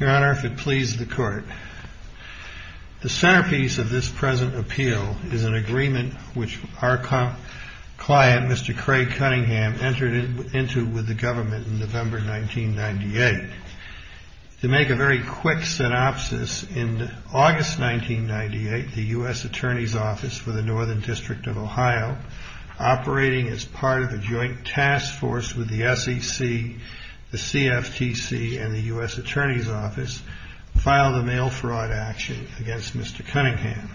The centerpiece of this present appeal is an agreement which our client Mr. Craig Cunningham entered into with the government in November 1998. To make a very quick synopsis, in August 1998, the U.S. Attorney's Office for the Northern District of Ohio, operating as part of a joint task force with the SEC, the CFTC, and the U.S. Attorney's Office, filed a mail fraud action against Mr. Cunningham.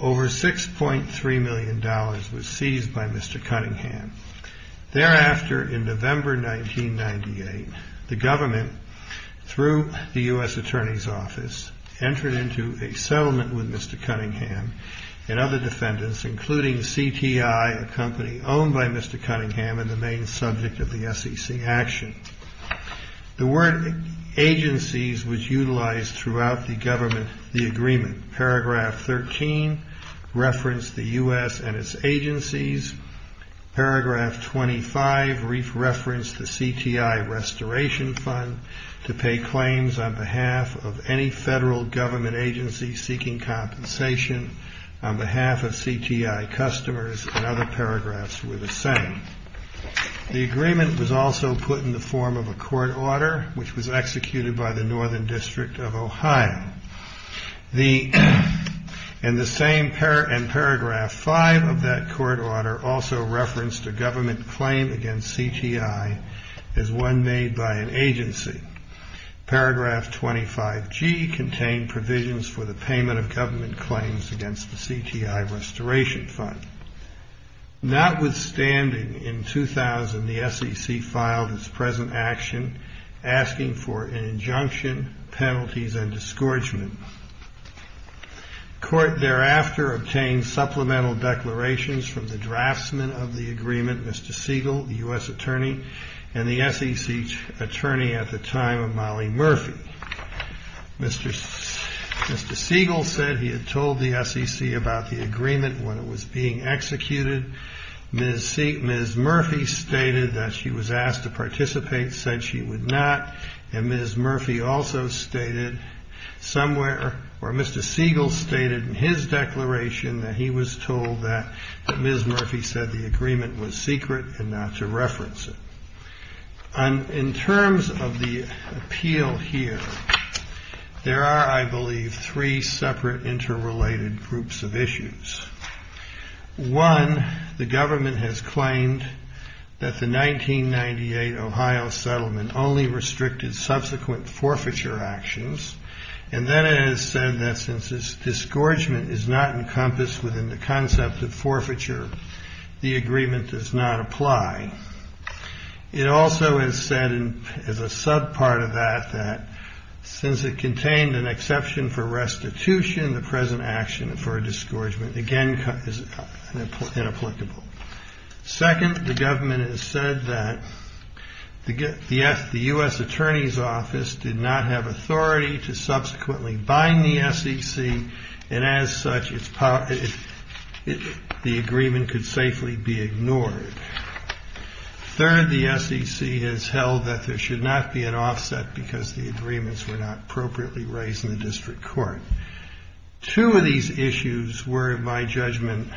Over $6.3 million was seized by Mr. Cunningham. Thereafter, in November 1998, the government, through the U.S. Attorney's Office, entered into a settlement with Mr. Cunningham and other defendants, including CTI, a company owned by Mr. Cunningham and the main subject of the SEC action. The word agencies was utilized throughout the agreement. Paragraph 13 referenced the U.S. and its agencies. Paragraph 25 referenced the CTI restoration fund to pay claims on behalf of any federal government agency seeking compensation on behalf of CTI customers, and other paragraphs were the same. The agreement was also put in the form of a court order, which was executed by the Northern District of Ohio. And paragraph 5 of that court order also referenced a government claim against CTI as one made by an agency. Paragraph 25G contained provisions for the payment of government claims against the CTI restoration fund. Notwithstanding, in 2000, the SEC filed its present action, asking for an injunction, penalties, and disgorgement. The court thereafter obtained supplemental declarations from the draftsman of the agreement, Mr. Siegel, the he had told the SEC about the agreement when it was being executed. Ms. Murphy stated that she was asked to participate, said she would not. And Ms. Murphy also stated somewhere, or Mr. Siegel stated in his declaration that he was told that Ms. Murphy said the agreement was secret and not to reference it. In terms of the appeal here, there are, I believe, three separate interrelated groups of issues. One, the government has claimed that the 1998 Ohio settlement only restricted subsequent forfeiture actions, and then it has said that since this disgorgement is not encompassed within the concept of forfeiture, the agreement does not apply. It also has said, as a sub-part of that, that since it contained an exception for restitution, the present action for a disgorgement, again, is inapplicable. Second, the government has said that the U.S. Attorney's Office did not have authority to subsequently bind the SEC, and as such, the agreement could safely be ignored. Third, the SEC has held that there should not be an offset because the agreements were not appropriately raised in the district court. Two of these issues were, in my judgment,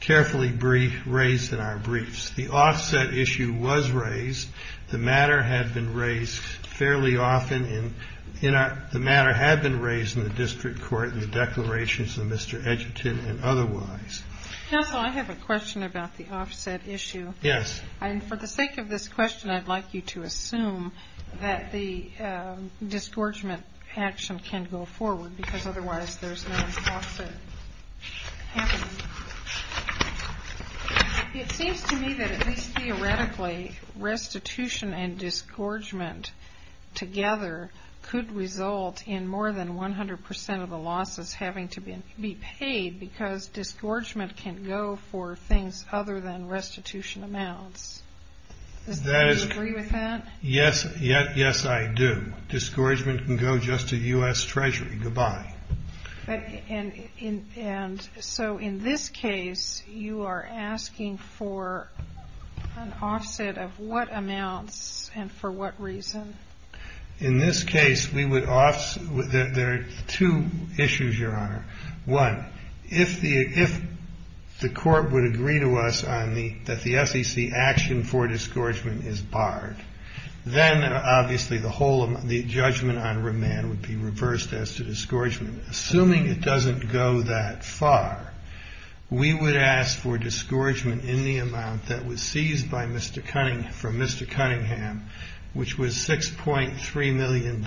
carefully raised in our briefs. The offset issue was raised. The matter had been raised fairly often in our – the matter had been raised in the district court in the declarations of Mr. Edgerton and otherwise. Counsel, I have a question about the offset issue. Yes. And for the sake of this question, I'd like you to assume that the disgorgement action can go forward because otherwise there's no offset happening. It seems to me that at least theoretically, restitution and disgorgement together could result in more than 100 percent of the losses having to be paid because disgorgement can go for things other than restitution amounts. Do you agree with that? Yes. Yes, I do. Disgorgement can go just to U.S. Treasury. Goodbye. And so in this case, you are asking for an offset of what amounts and for what reason? In this case, we would – there are two issues, Your Honor. One, if the court would agree to us that the SEC action for disgorgement is barred, then obviously the whole – the judgment on remand would be reversed as to disgorgement. Assuming it doesn't go that far, we would ask for disgorgement in the amount that was seized by Mr. Cunningham – from Mr. Cunningham, which was $6.3 million,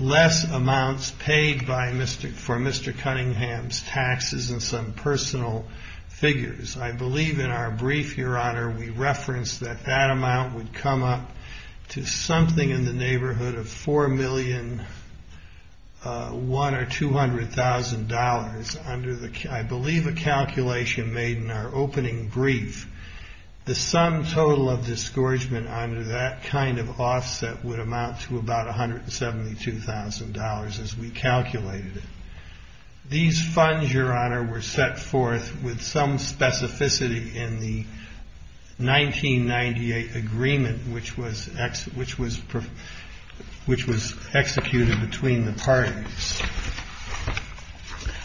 less amounts paid by Mr. – for Mr. Cunningham's taxes and some personal figures. I believe in our brief, Your Honor, we referenced that that amount would come up to something in the neighborhood of $4,100,000 or $200,000 under the – I believe a calculation made in our opening brief. The sum total of disgorgement under that kind of offset would amount to about $172,000 as we calculated it. These funds, Your Honor, were set forth with some specificity in the 1998 agreement which was – which was executed between the parties.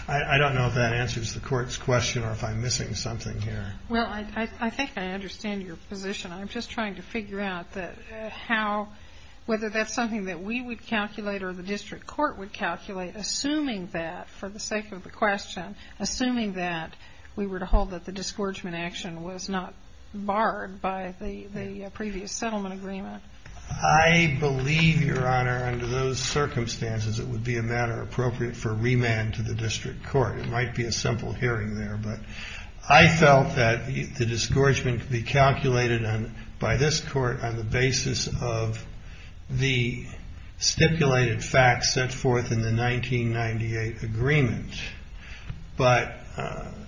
I don't know if that answers the court's question or if I'm missing something here. Well, I think I understand your position. I'm just trying to figure out how – whether that's something that we would calculate or the district court would calculate, assuming that, for the sake of the question, assuming that we were to hold that the disgorgement action was not barred by the previous settlement agreement. I believe, Your Honor, under those circumstances it would be a matter appropriate for remand to the district court. It might be a simple hearing there, but I felt that the disgorgement could be calculated by this court on the basis of the stipulated facts set forth in the 1998 agreement. But –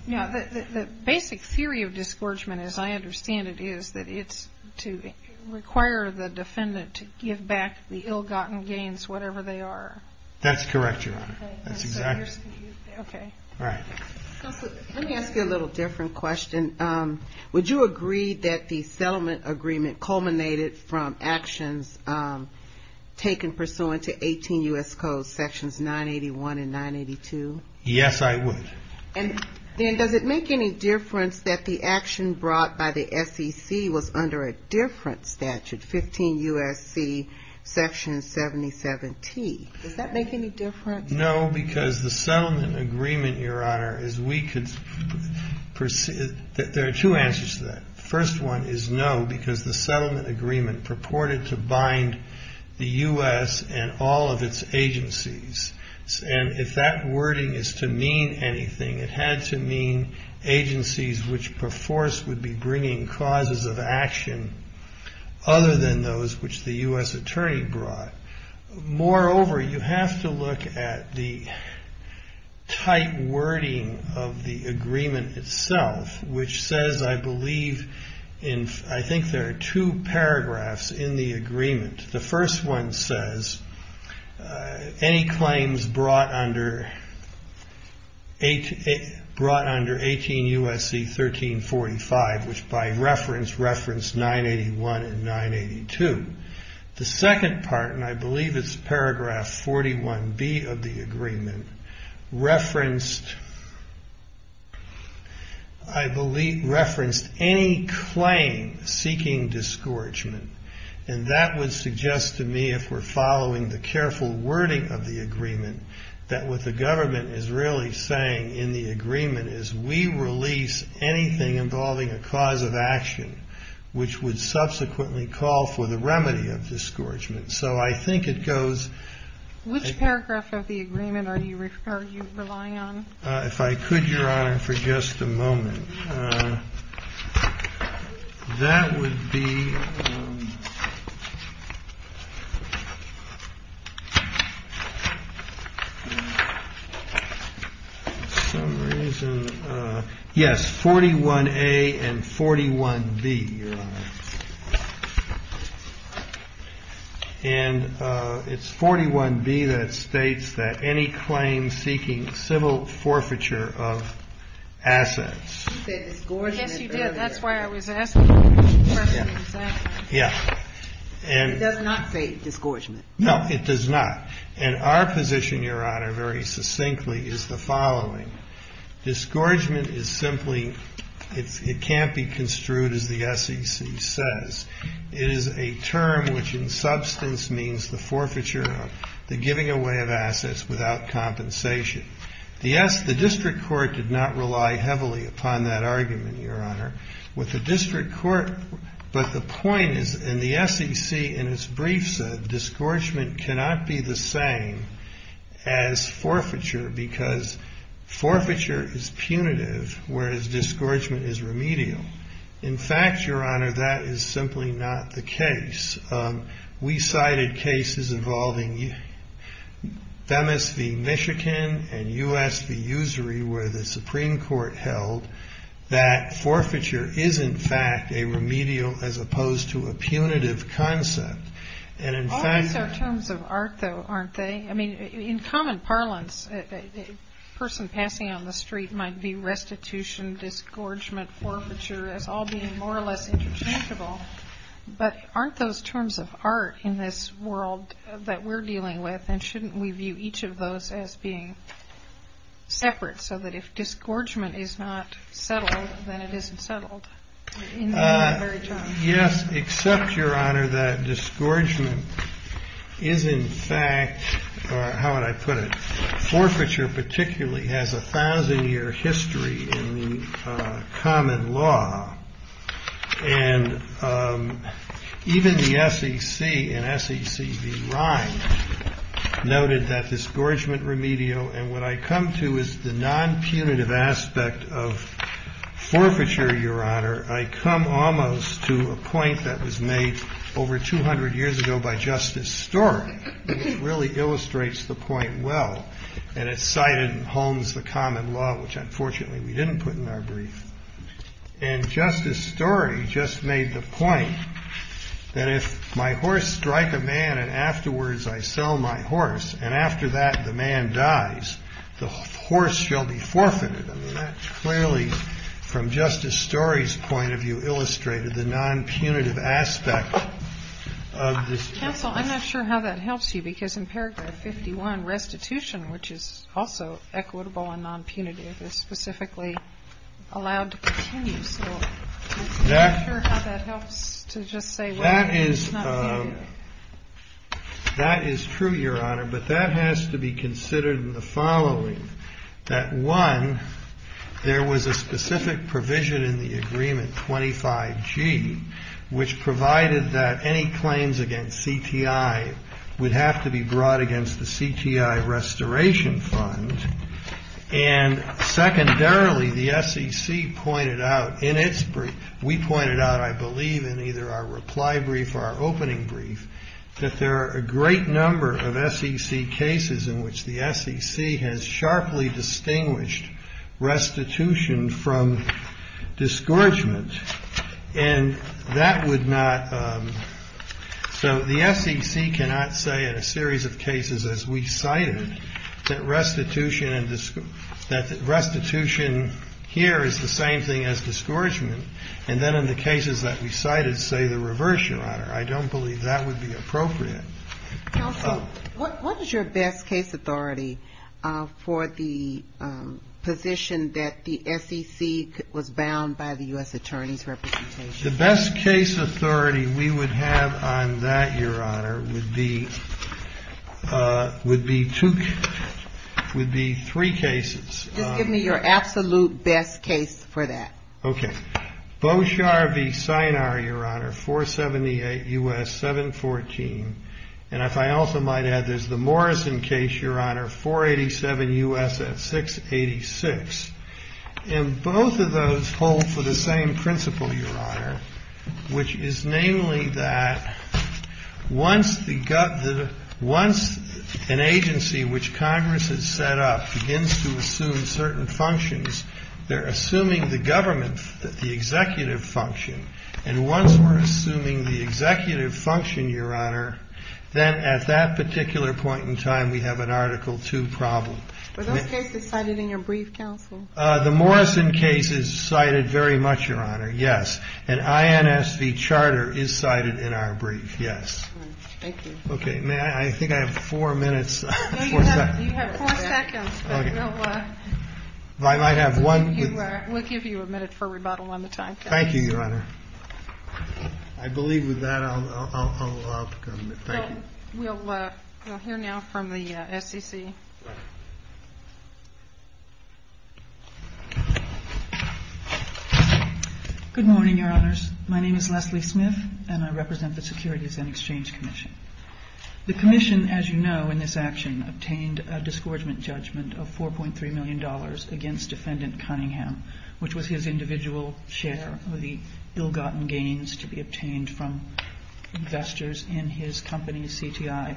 Yeah, the basic theory of disgorgement, as I understand it, is that it's to require the defendant to give back the ill-gotten gains, whatever they are. That's correct, Your Honor. That's exactly – Okay. All right. Let me ask you a little different question. Would you agree that the settlement agreement culminated from actions taken pursuant to 18 U.S. Code Sections 981 and 982? Yes, I would. And then does it make any difference that the action brought by the SEC was under a different statute, 15 U.S.C. Section 77T? Does that make any difference? No, because the settlement agreement, Your Honor, is we could – there are two answers to that. The first one is no, because the settlement agreement purported to bind the U.S. and all of its agencies. And if that wording is to mean anything, it had to mean agencies which perforce would be bringing causes of action other than those which the U.S. attorney brought. Moreover, you have to look at the tight wording of the I think there are two paragraphs in the agreement. The first one says any claims brought under 18 U.S.C. 1345, which by reference referenced 981 and 982. The second part, and I believe it's paragraph 41B of the agreement, referenced any claim seeking disgorgement. And that would suggest to me, if we're following the careful wording of the agreement, that what the government is really saying in the agreement is we release anything involving a cause of action which would subsequently call for the remedy of disgorgement. So I think it goes Which paragraph of the agreement are you relying on? If I could, Your Honor, for just a moment. That would be For some reason, yes, 41A and 41B, Your Honor. And it's 41B that states that any claim seeking civil forfeiture of assets. You said disgorgement earlier. Yes, you did. That's why I was asking the question exactly. Yeah. It does not say disgorgement. No, it does not. And our position, Your Honor, very succinctly, is the following. Disgorgement is simply, it can't be construed as the SEC says. It is a term which in substance means the forfeiture of, the giving away of assets without compensation. The district court did not rely heavily upon that argument, Your Honor. But the point is, and the SEC in its brief said, disgorgement cannot be the same as forfeiture because forfeiture is punitive whereas disgorgement is remedial. In fact, Your Honor, that is simply not the case. We cited cases involving Themis v. Michigan and U.S. v. Usury where the Supreme Court held that forfeiture is in fact a remedial as opposed to a punitive concept. All these are terms of art, though, aren't they? I mean, in common parlance, a person passing on the street might view restitution, disgorgement, forfeiture as all being more or less interchangeable. But aren't those terms of art in this world that we're dealing with? And shouldn't we view each of those as being separate so that if disgorgement is not disgorgement is in fact, or how would I put it, forfeiture particularly has a thousand year history in the common law. And even the SEC and SEC v. Ryan noted that disgorgement remedial and what I come to is the non-punitive aspect of Justice Story, which really illustrates the point well. And it's cited in Holmes' The Common Law, which unfortunately we didn't put in our brief. And Justice Story just made the point that if my horse strike a man and afterwards I sell my horse and after that the man dies, the horse shall be forfeited. I mean, that clearly from Justice Story's point of view illustrated the non-punitive aspect of this. Counsel, I'm not sure how that helps you because in paragraph 51 restitution, which is also equitable and non-punitive, is specifically allowed to continue. So I'm not sure how that helps to just say what is not punitive. I'm not sure how that helps to just say what is not punitive. And that would not, so the SEC cannot say in a series of cases as we cited, that restitution here is the same thing as disgorgement. And then in the cases that we cited, say the reversal honor. I don't believe that would be appropriate. Counsel, what is your best case authority for the position that the SEC was bound by the U.S. Attorney General? The best case authority we would have on that, Your Honor, would be two, would be three cases. Just give me your absolute best case for that. Okay. Boshar v. Sinar, Your Honor, 478 U.S. 714. And if I also might add, there's the Morrison case, Your Honor, 487 U.S. at 686. And both of those hold for the same principle, Your Honor, which is namely that once the, once an agency which Congress has set up begins to assume certain functions, they're assuming the government, the executive function. And once we're assuming the executive function, Your Honor, then at that particular point in time, we have an Article II problem. Were those cases cited in your brief, Counsel? The Morrison case is cited very much, Your Honor, yes. And INS v. Charter is cited in our brief, yes. Thank you. Okay. May I? I think I have four minutes. No, you have four seconds. I might have one. We'll give you a minute for rebuttal on the time. Thank you, Your Honor. I believe with that I'll come. Thank you. We'll hear now from the SEC. Good morning, Your Honors. My name is Leslie Smith and I represent the Securities and Exchange Commission. The Commission, as you know, in this action, obtained a disgorgement judgment of $4.3 million against Defendant Cunningham, which was his individual share of the ill-gotten gains to be obtained from investors in his company's CTI.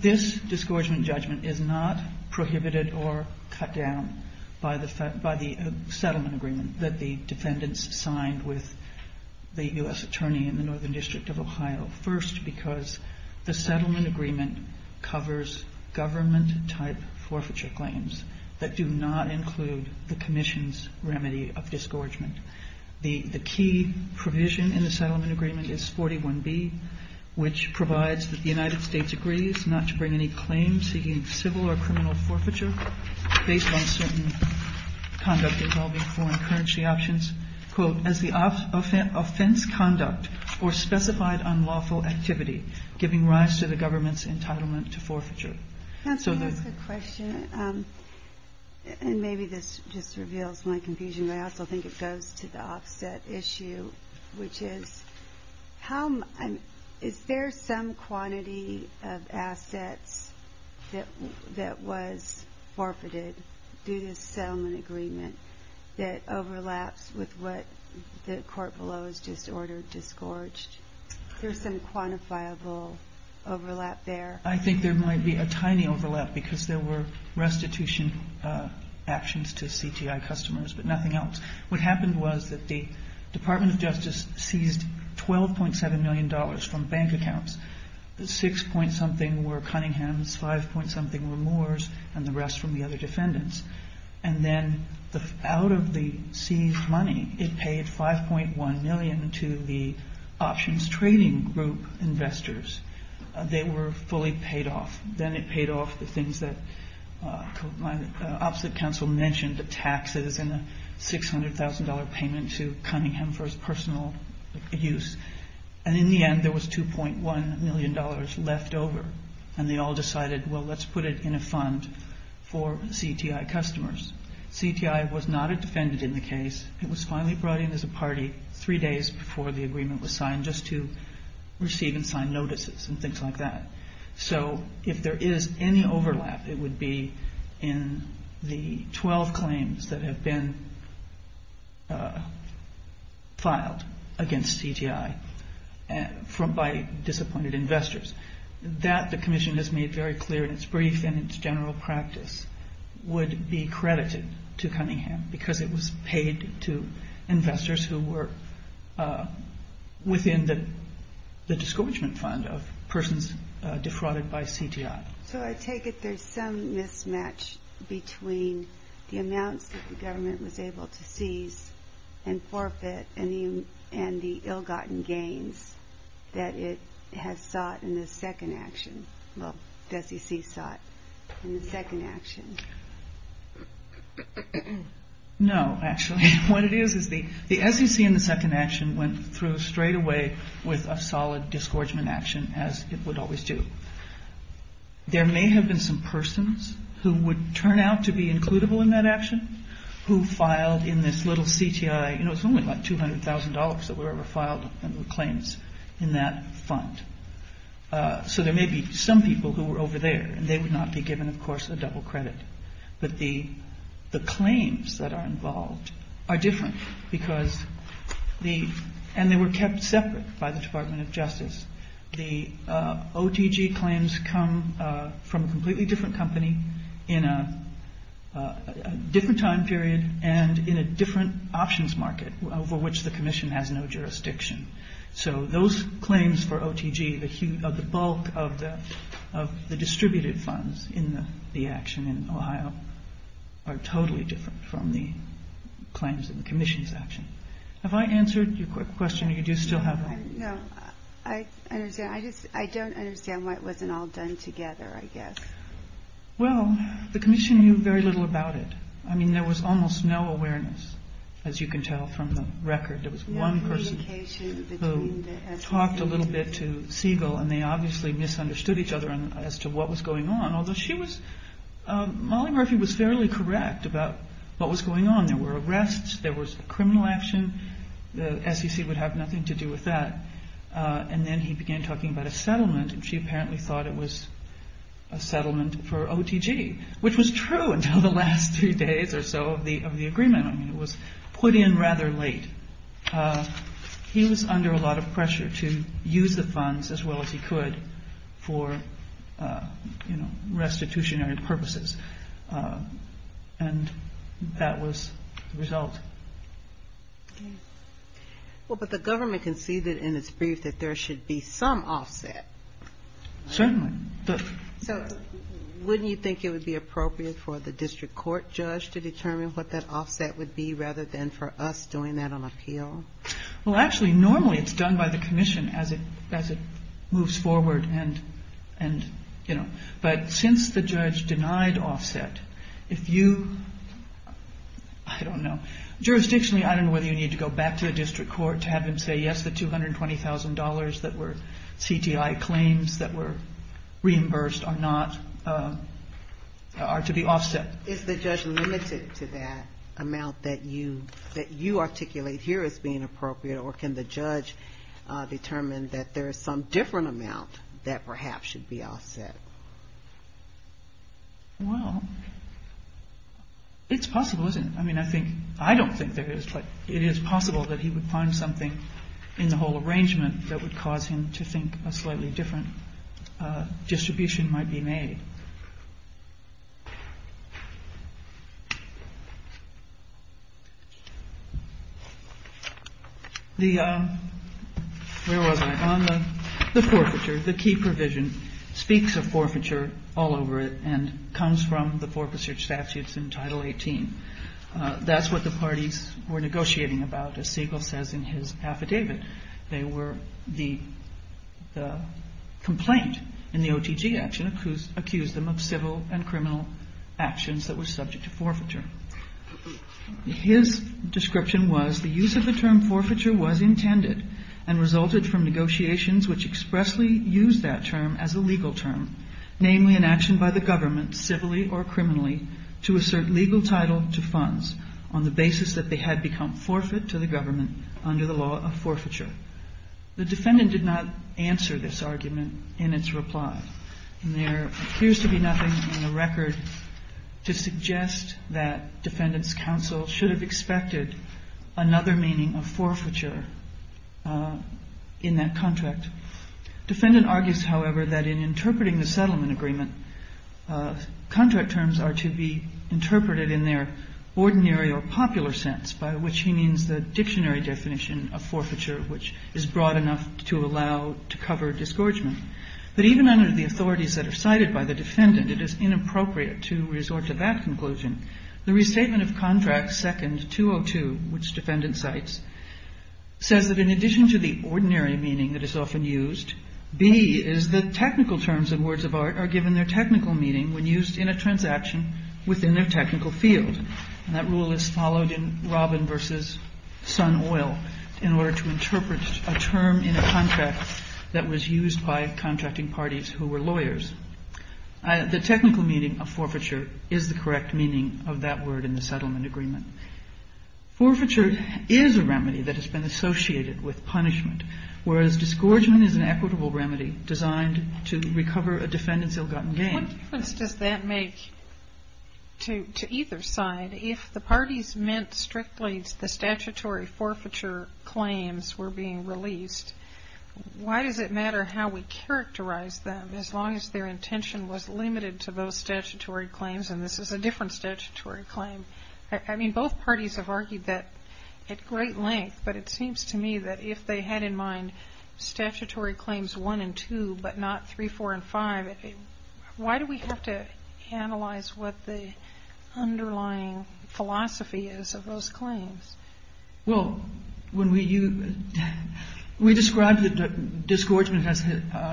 This disgorgement judgment is not prohibited or cut down by the settlement agreement that the defendants signed with the U.S. Attorney in the Northern District of Ohio. First, because the settlement agreement covers government-type forfeiture claims that do not include the Commission's remedy of disgorgement. The key provision in the settlement agreement is 41B, which provides that the United States agrees not to bring any claims seeking civil or criminal forfeiture based on certain conduct involving foreign currency options, quote, as the offense conduct or specified unlawful activity giving rise to the government's entitlement to forfeiture. And maybe this just reveals my confusion, but I also think it goes to the offset issue, which is, is there some quantity of assets that was forfeited through this settlement agreement that overlaps with what the court below has just ordered disgorged? Is there some quantifiable overlap there? I think there might be a tiny overlap, because there were restitution actions to CTI customers, but nothing else. What happened was that the Department of Justice seized $12.7 million from bank accounts. The 6-point-something were Cunningham's, 5-point-something were Moore's, and the rest from the other defendants. And then out of the seized money, it paid $5.1 million to the options trading group investors. They were fully paid off. Then it paid off the things that my opposite counsel mentioned, the taxes and the $600,000 payment to Cunningham for his personal use. And in the end, there was $2.1 million left over, and they all decided, well, let's put it in a fund for CTI customers. CTI was not a defendant in the case. It was finally brought in as a party three days before the agreement was signed, just to receive and sign notices and things like that. So if there is any overlap, it would be in the 12 claims that have been filed against CTI by disappointed investors. That the commission has made very clear in its brief and its general practice would be credited to Cunningham, because it was paid to investors who were within the discouragement fund of persons defrauded by CTI. So I take it there's some mismatch between the amounts that the government was able to seize and forfeit, and the ill-gotten gains that it has sought in the second action, well, the SEC sought in the second action. No, actually. What it is, is the SEC in the second action went through straight away with a solid disgorgement action, as it would always do. There may have been some persons who would turn out to be includable in that action who filed in this little CTI, you know, it's only like $200,000 that were ever filed under the claims in that fund. So there may be some people who were over there, and they would not be given, of course, a double credit. But the claims that are involved are different, and they were kept separate by the Department of Justice. The OTG claims come from a completely different company in a different time period and in a different options market over which the commission has no jurisdiction. And the claims that are in Ohio are totally different from the claims in the commission's action. Have I answered your question, or do you still have one? No, I don't understand why it wasn't all done together, I guess. Well, the commission knew very little about it. I mean, there was almost no awareness, as you can tell from the record. There was one person who talked a little bit to Siegel, and they obviously misunderstood each other as to what was going on, although Molly Murphy was fairly correct about what was going on. There were arrests, there was criminal action. The SEC would have nothing to do with that. And then he began talking about a settlement, and she apparently thought it was a settlement for OTG, which was true until the last three days or so of the agreement. I mean, it was put in rather late. He was under a lot of pressure to use the funds as well as he could for, you know, restitutionary purposes. And that was the result. Well, but the government conceded in its brief that there should be some offset. Certainly. So wouldn't you think it would be appropriate for the district court judge to determine what that offset would be, rather than for us doing that on appeal? Well, actually, normally it's done by the commission as it moves forward and, you know. But since the judge denied offset, if you – I don't know. Jurisdictionally, I don't know whether you need to go back to the district court to have him say yes to the $220,000 that were CTI claims that were reimbursed or not are to be offset. Is the judge limited to that amount that you articulate here as being appropriate, or can the judge determine that there is some different amount that perhaps should be offset? Well, it's possible, isn't it? I mean, I think – I don't think there is, but it is possible that he would find something in the whole arrangement that would cause him to think a slightly different distribution might be made. The – where was I? On the forfeiture, the key provision speaks of forfeiture all over it and comes from the forfeiture statutes in Title 18. That's what the parties were negotiating about, as Siegel says in his affidavit. They were – the complaint in the OTG action accused them of civil and criminal actions that were subject to forfeiture. His description was, the use of the term forfeiture was intended and resulted from negotiations which expressly used that term as a legal term, namely an action by the government, civilly or criminally, to assert legal title to funds on the basis that they had become forfeit to the government under the law of forfeiture. The defendant did not answer this argument in its reply, and there appears to be nothing in the record to suggest that defendants' counsel should have expected another meaning of forfeiture in that contract. Defendant argues, however, that in interpreting the settlement agreement, contract terms are to be interpreted in their ordinary or popular sense, by which he means the dictionary definition of forfeiture, which is broad enough to allow – to cover disgorgement. But even under the authorities that are cited by the defendant, it is inappropriate to resort to that conclusion. The restatement of contract second 202, which defendant cites, says that in addition to the ordinary meaning that is often used, B is that technical terms of words of art are given their technical meaning when used in a transaction within their technical field. And that rule is followed in Robin v. Sun Oil in order to interpret a term in a contract that was used by contracting parties who were lawyers. The technical meaning of forfeiture is the correct meaning of that word in the settlement agreement. Forfeiture is a remedy that has been associated with punishment, whereas disgorgement is an equitable remedy designed to recover a defendant's ill-gotten gain. What difference does that make to either side? If the parties meant strictly the statutory forfeiture claims were being released, why does it matter how we characterize them as long as their intention was limited to those statutory claims and this is a different statutory claim? I mean, both parties have argued that at great length, but it seems to me that if they had in mind statutory claims 1 and 2 but not 3, 4, and 5, why do we have to analyze what the underlying philosophy is of those claims? Well, when we you we described the disgorgement has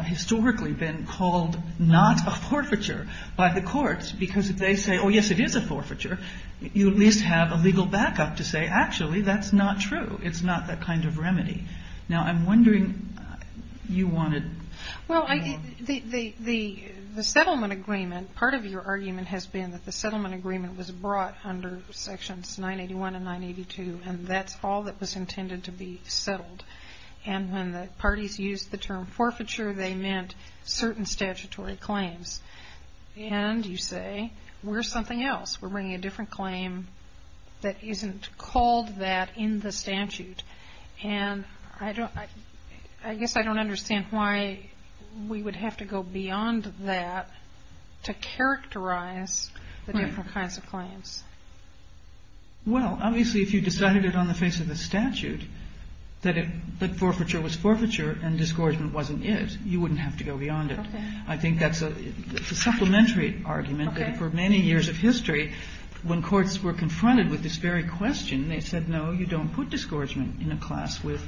historically been called not a forfeiture by the courts because if they say, oh, yes, it is a forfeiture, you at least have a legal backup to say, actually, that's not true. It's not that kind of remedy. Now, I'm wondering, you wanted... Well, the settlement agreement, part of your argument has been that the settlement agreement was brought under sections 981 and 982, and that's all that was intended to be settled. And when the parties used the term forfeiture, they meant certain statutory claims. And you say, where's something else? We're bringing a different claim that isn't called that in the statute. And I guess I don't understand why we would have to go beyond that to characterize the different kinds of claims. Well, obviously, if you decided it on the face of the statute that forfeiture was forfeiture and disgorgement wasn't it, you wouldn't have to go beyond it. I think that's a supplementary argument that for many years of history, when courts were confronted with this very question, they said, no, you don't put disgorgement in a class with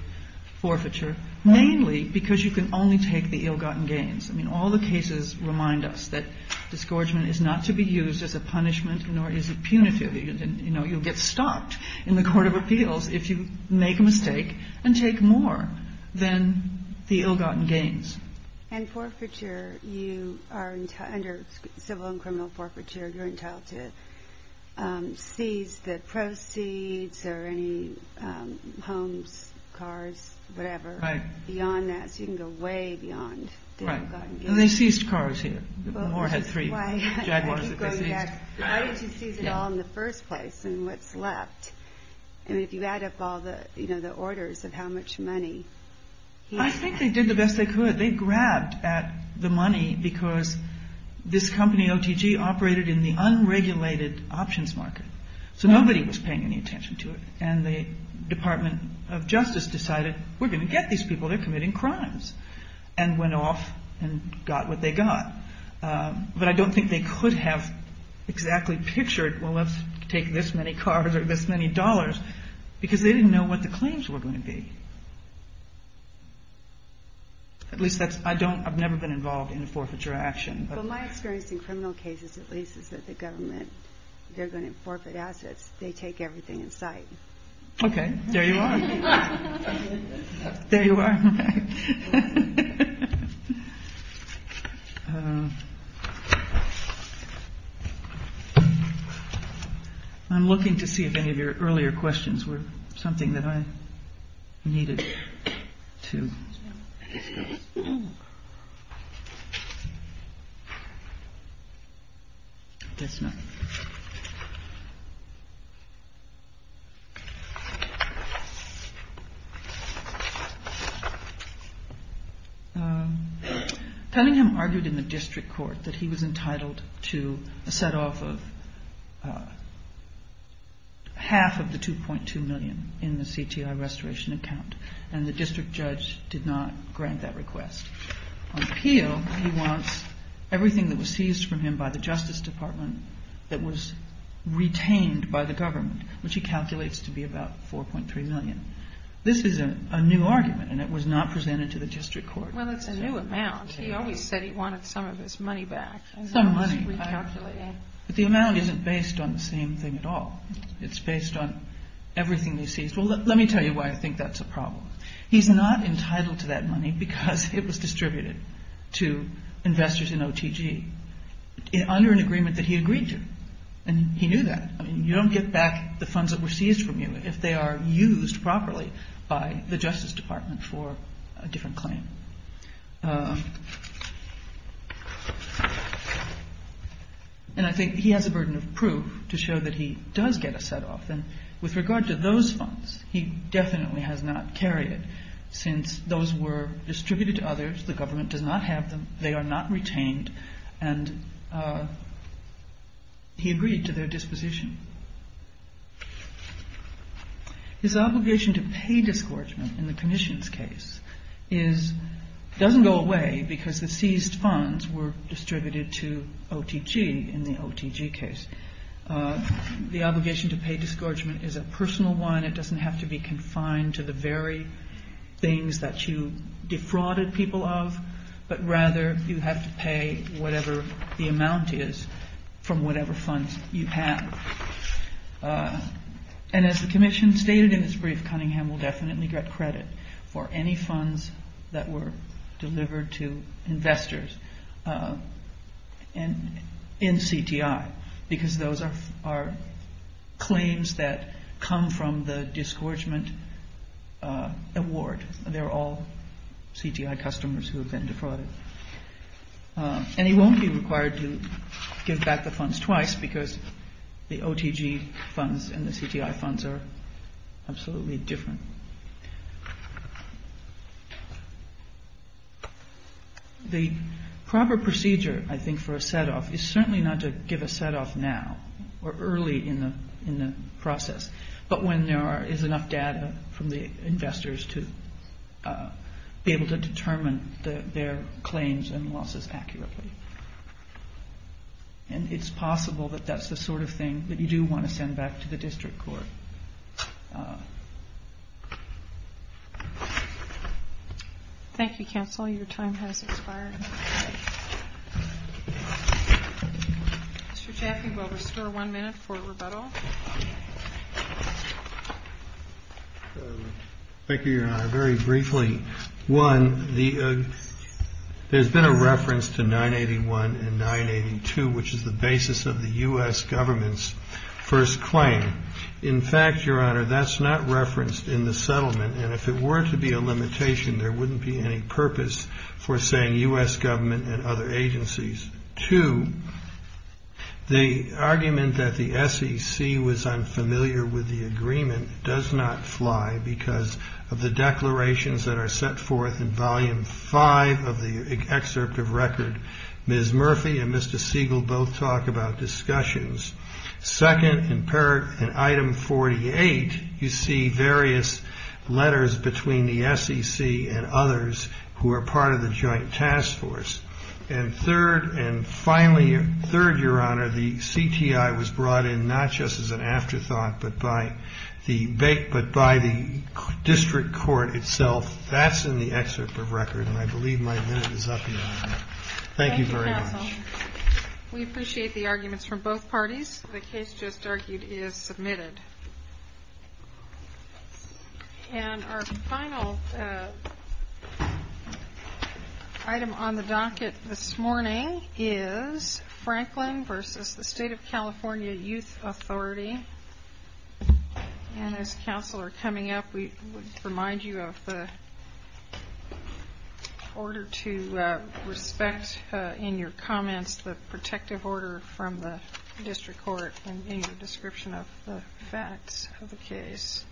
forfeiture, mainly because you can only take the ill-gotten gains. I mean, all the cases remind us that disgorgement is not to be used as a punishment nor is it punitive. You know, you'll get stopped in the court of appeals if you make a mistake and take more than the ill-gotten gains. And forfeiture, under civil and criminal forfeiture, you're entitled to seize the proceeds or any homes, cars, whatever. Right. Beyond that, so you can go way beyond the ill-gotten gains. And they seized cars here. Moore had three Jaguars that they seized. Why did you seize it all in the first place and what's left? I mean, if you add up all the orders of how much money he had. I think they did the best they could. They grabbed at the money because this company, OTG, operated in the unregulated options market, so nobody was paying any attention to it. And the Department of Justice decided, we're going to get these people, they're committing crimes, and went off and got what they got. But I don't think they could have exactly pictured, well, let's take this many cars or this many dollars, because they didn't know what the claims were going to be. At least that's, I don't, I've never been involved in a forfeiture action. Well, my experience in criminal cases, at least, is that the government, they're going to forfeit assets, they take everything in sight. Okay, there you are. There you are. I'm looking to see if any of your earlier questions were something that I needed to discuss. Tellingham argued in the district court that he was entitled to a setoff of half of the 2.2 million in the CTI restoration account, and the district judge did not grant that request. On appeal, he wants everything that was seized from him by the Justice Department that was retained by the government, which he calculates to be about 4.3 million. This is a new argument, and it was not presented to the district court. Well, it's a new amount. He always said he wanted some of his money back. Some money. But the amount isn't based on the same thing at all. It's based on everything he seized. Well, let me tell you why I think that's a problem. He's not entitled to that money because it was distributed to investors in OTG under an agreement that he agreed to. And he knew that. I mean, you don't get back the funds that were seized from you if they are used properly by the Justice Department for a different claim. And I think he has a burden of proof to show that he does get a setoff. And with regard to those funds, he definitely has not carried it since those were distributed to others. The government does not have them. They are not retained. And he agreed to their disposition. His obligation to pay disgorgement in the commission's case doesn't go away because the seized funds were distributed to OTG in the OTG case. The obligation to pay disgorgement is a personal one. It doesn't have to be confined to the very things that you defrauded people of. But rather, you have to pay whatever the amount is from whatever funds you have. And as the commission stated in its brief, Cunningham will definitely get credit for any funds that were delivered to investors in CTI. Because those are claims that come from the disgorgement award. They're all CTI customers who have been defrauded. And he won't be required to give back the funds twice because the OTG funds and the CTI funds are absolutely different. The proper procedure, I think, for a set-off is certainly not to give a set-off now or early in the process, but when there is enough data from the investors to be able to determine their claims and losses accurately. And it's possible that that's the sort of thing that you do want to send back to the district court. Thank you, counsel. Your time has expired. Mr. Chaffee will restore one minute for rebuttal. Thank you, Your Honor. Very briefly, one, there's been a reference to 981 and 982, which is the basis of the U.S. government's first claim. In fact, Your Honor, that's not referenced in the settlement. And if it were to be a limitation, there wouldn't be any purpose for saying U.S. government and other agencies. Two, the argument that the SEC was unfamiliar with the agreement does not fly because of the declarations that are set forth in Volume 5 of the excerpt of record. Ms. Murphy and Mr. Siegel both talk about discussions. Second, in item 48, you see various letters between the SEC and others who are part of the Joint Task Force. And third, and finally third, Your Honor, the CTI was brought in not just as an afterthought, but by the district court itself. That's in the excerpt of record. And I believe my minute is up, Your Honor. Thank you very much. Thank you, counsel. We appreciate the arguments from both parties. The case just argued is submitted. And our final item on the docket this morning is Franklin v. State of California Youth Authority. And as counsel are coming up, we would remind you of the order to respect in your comments the protective order from the district court in your description of the facts of the case.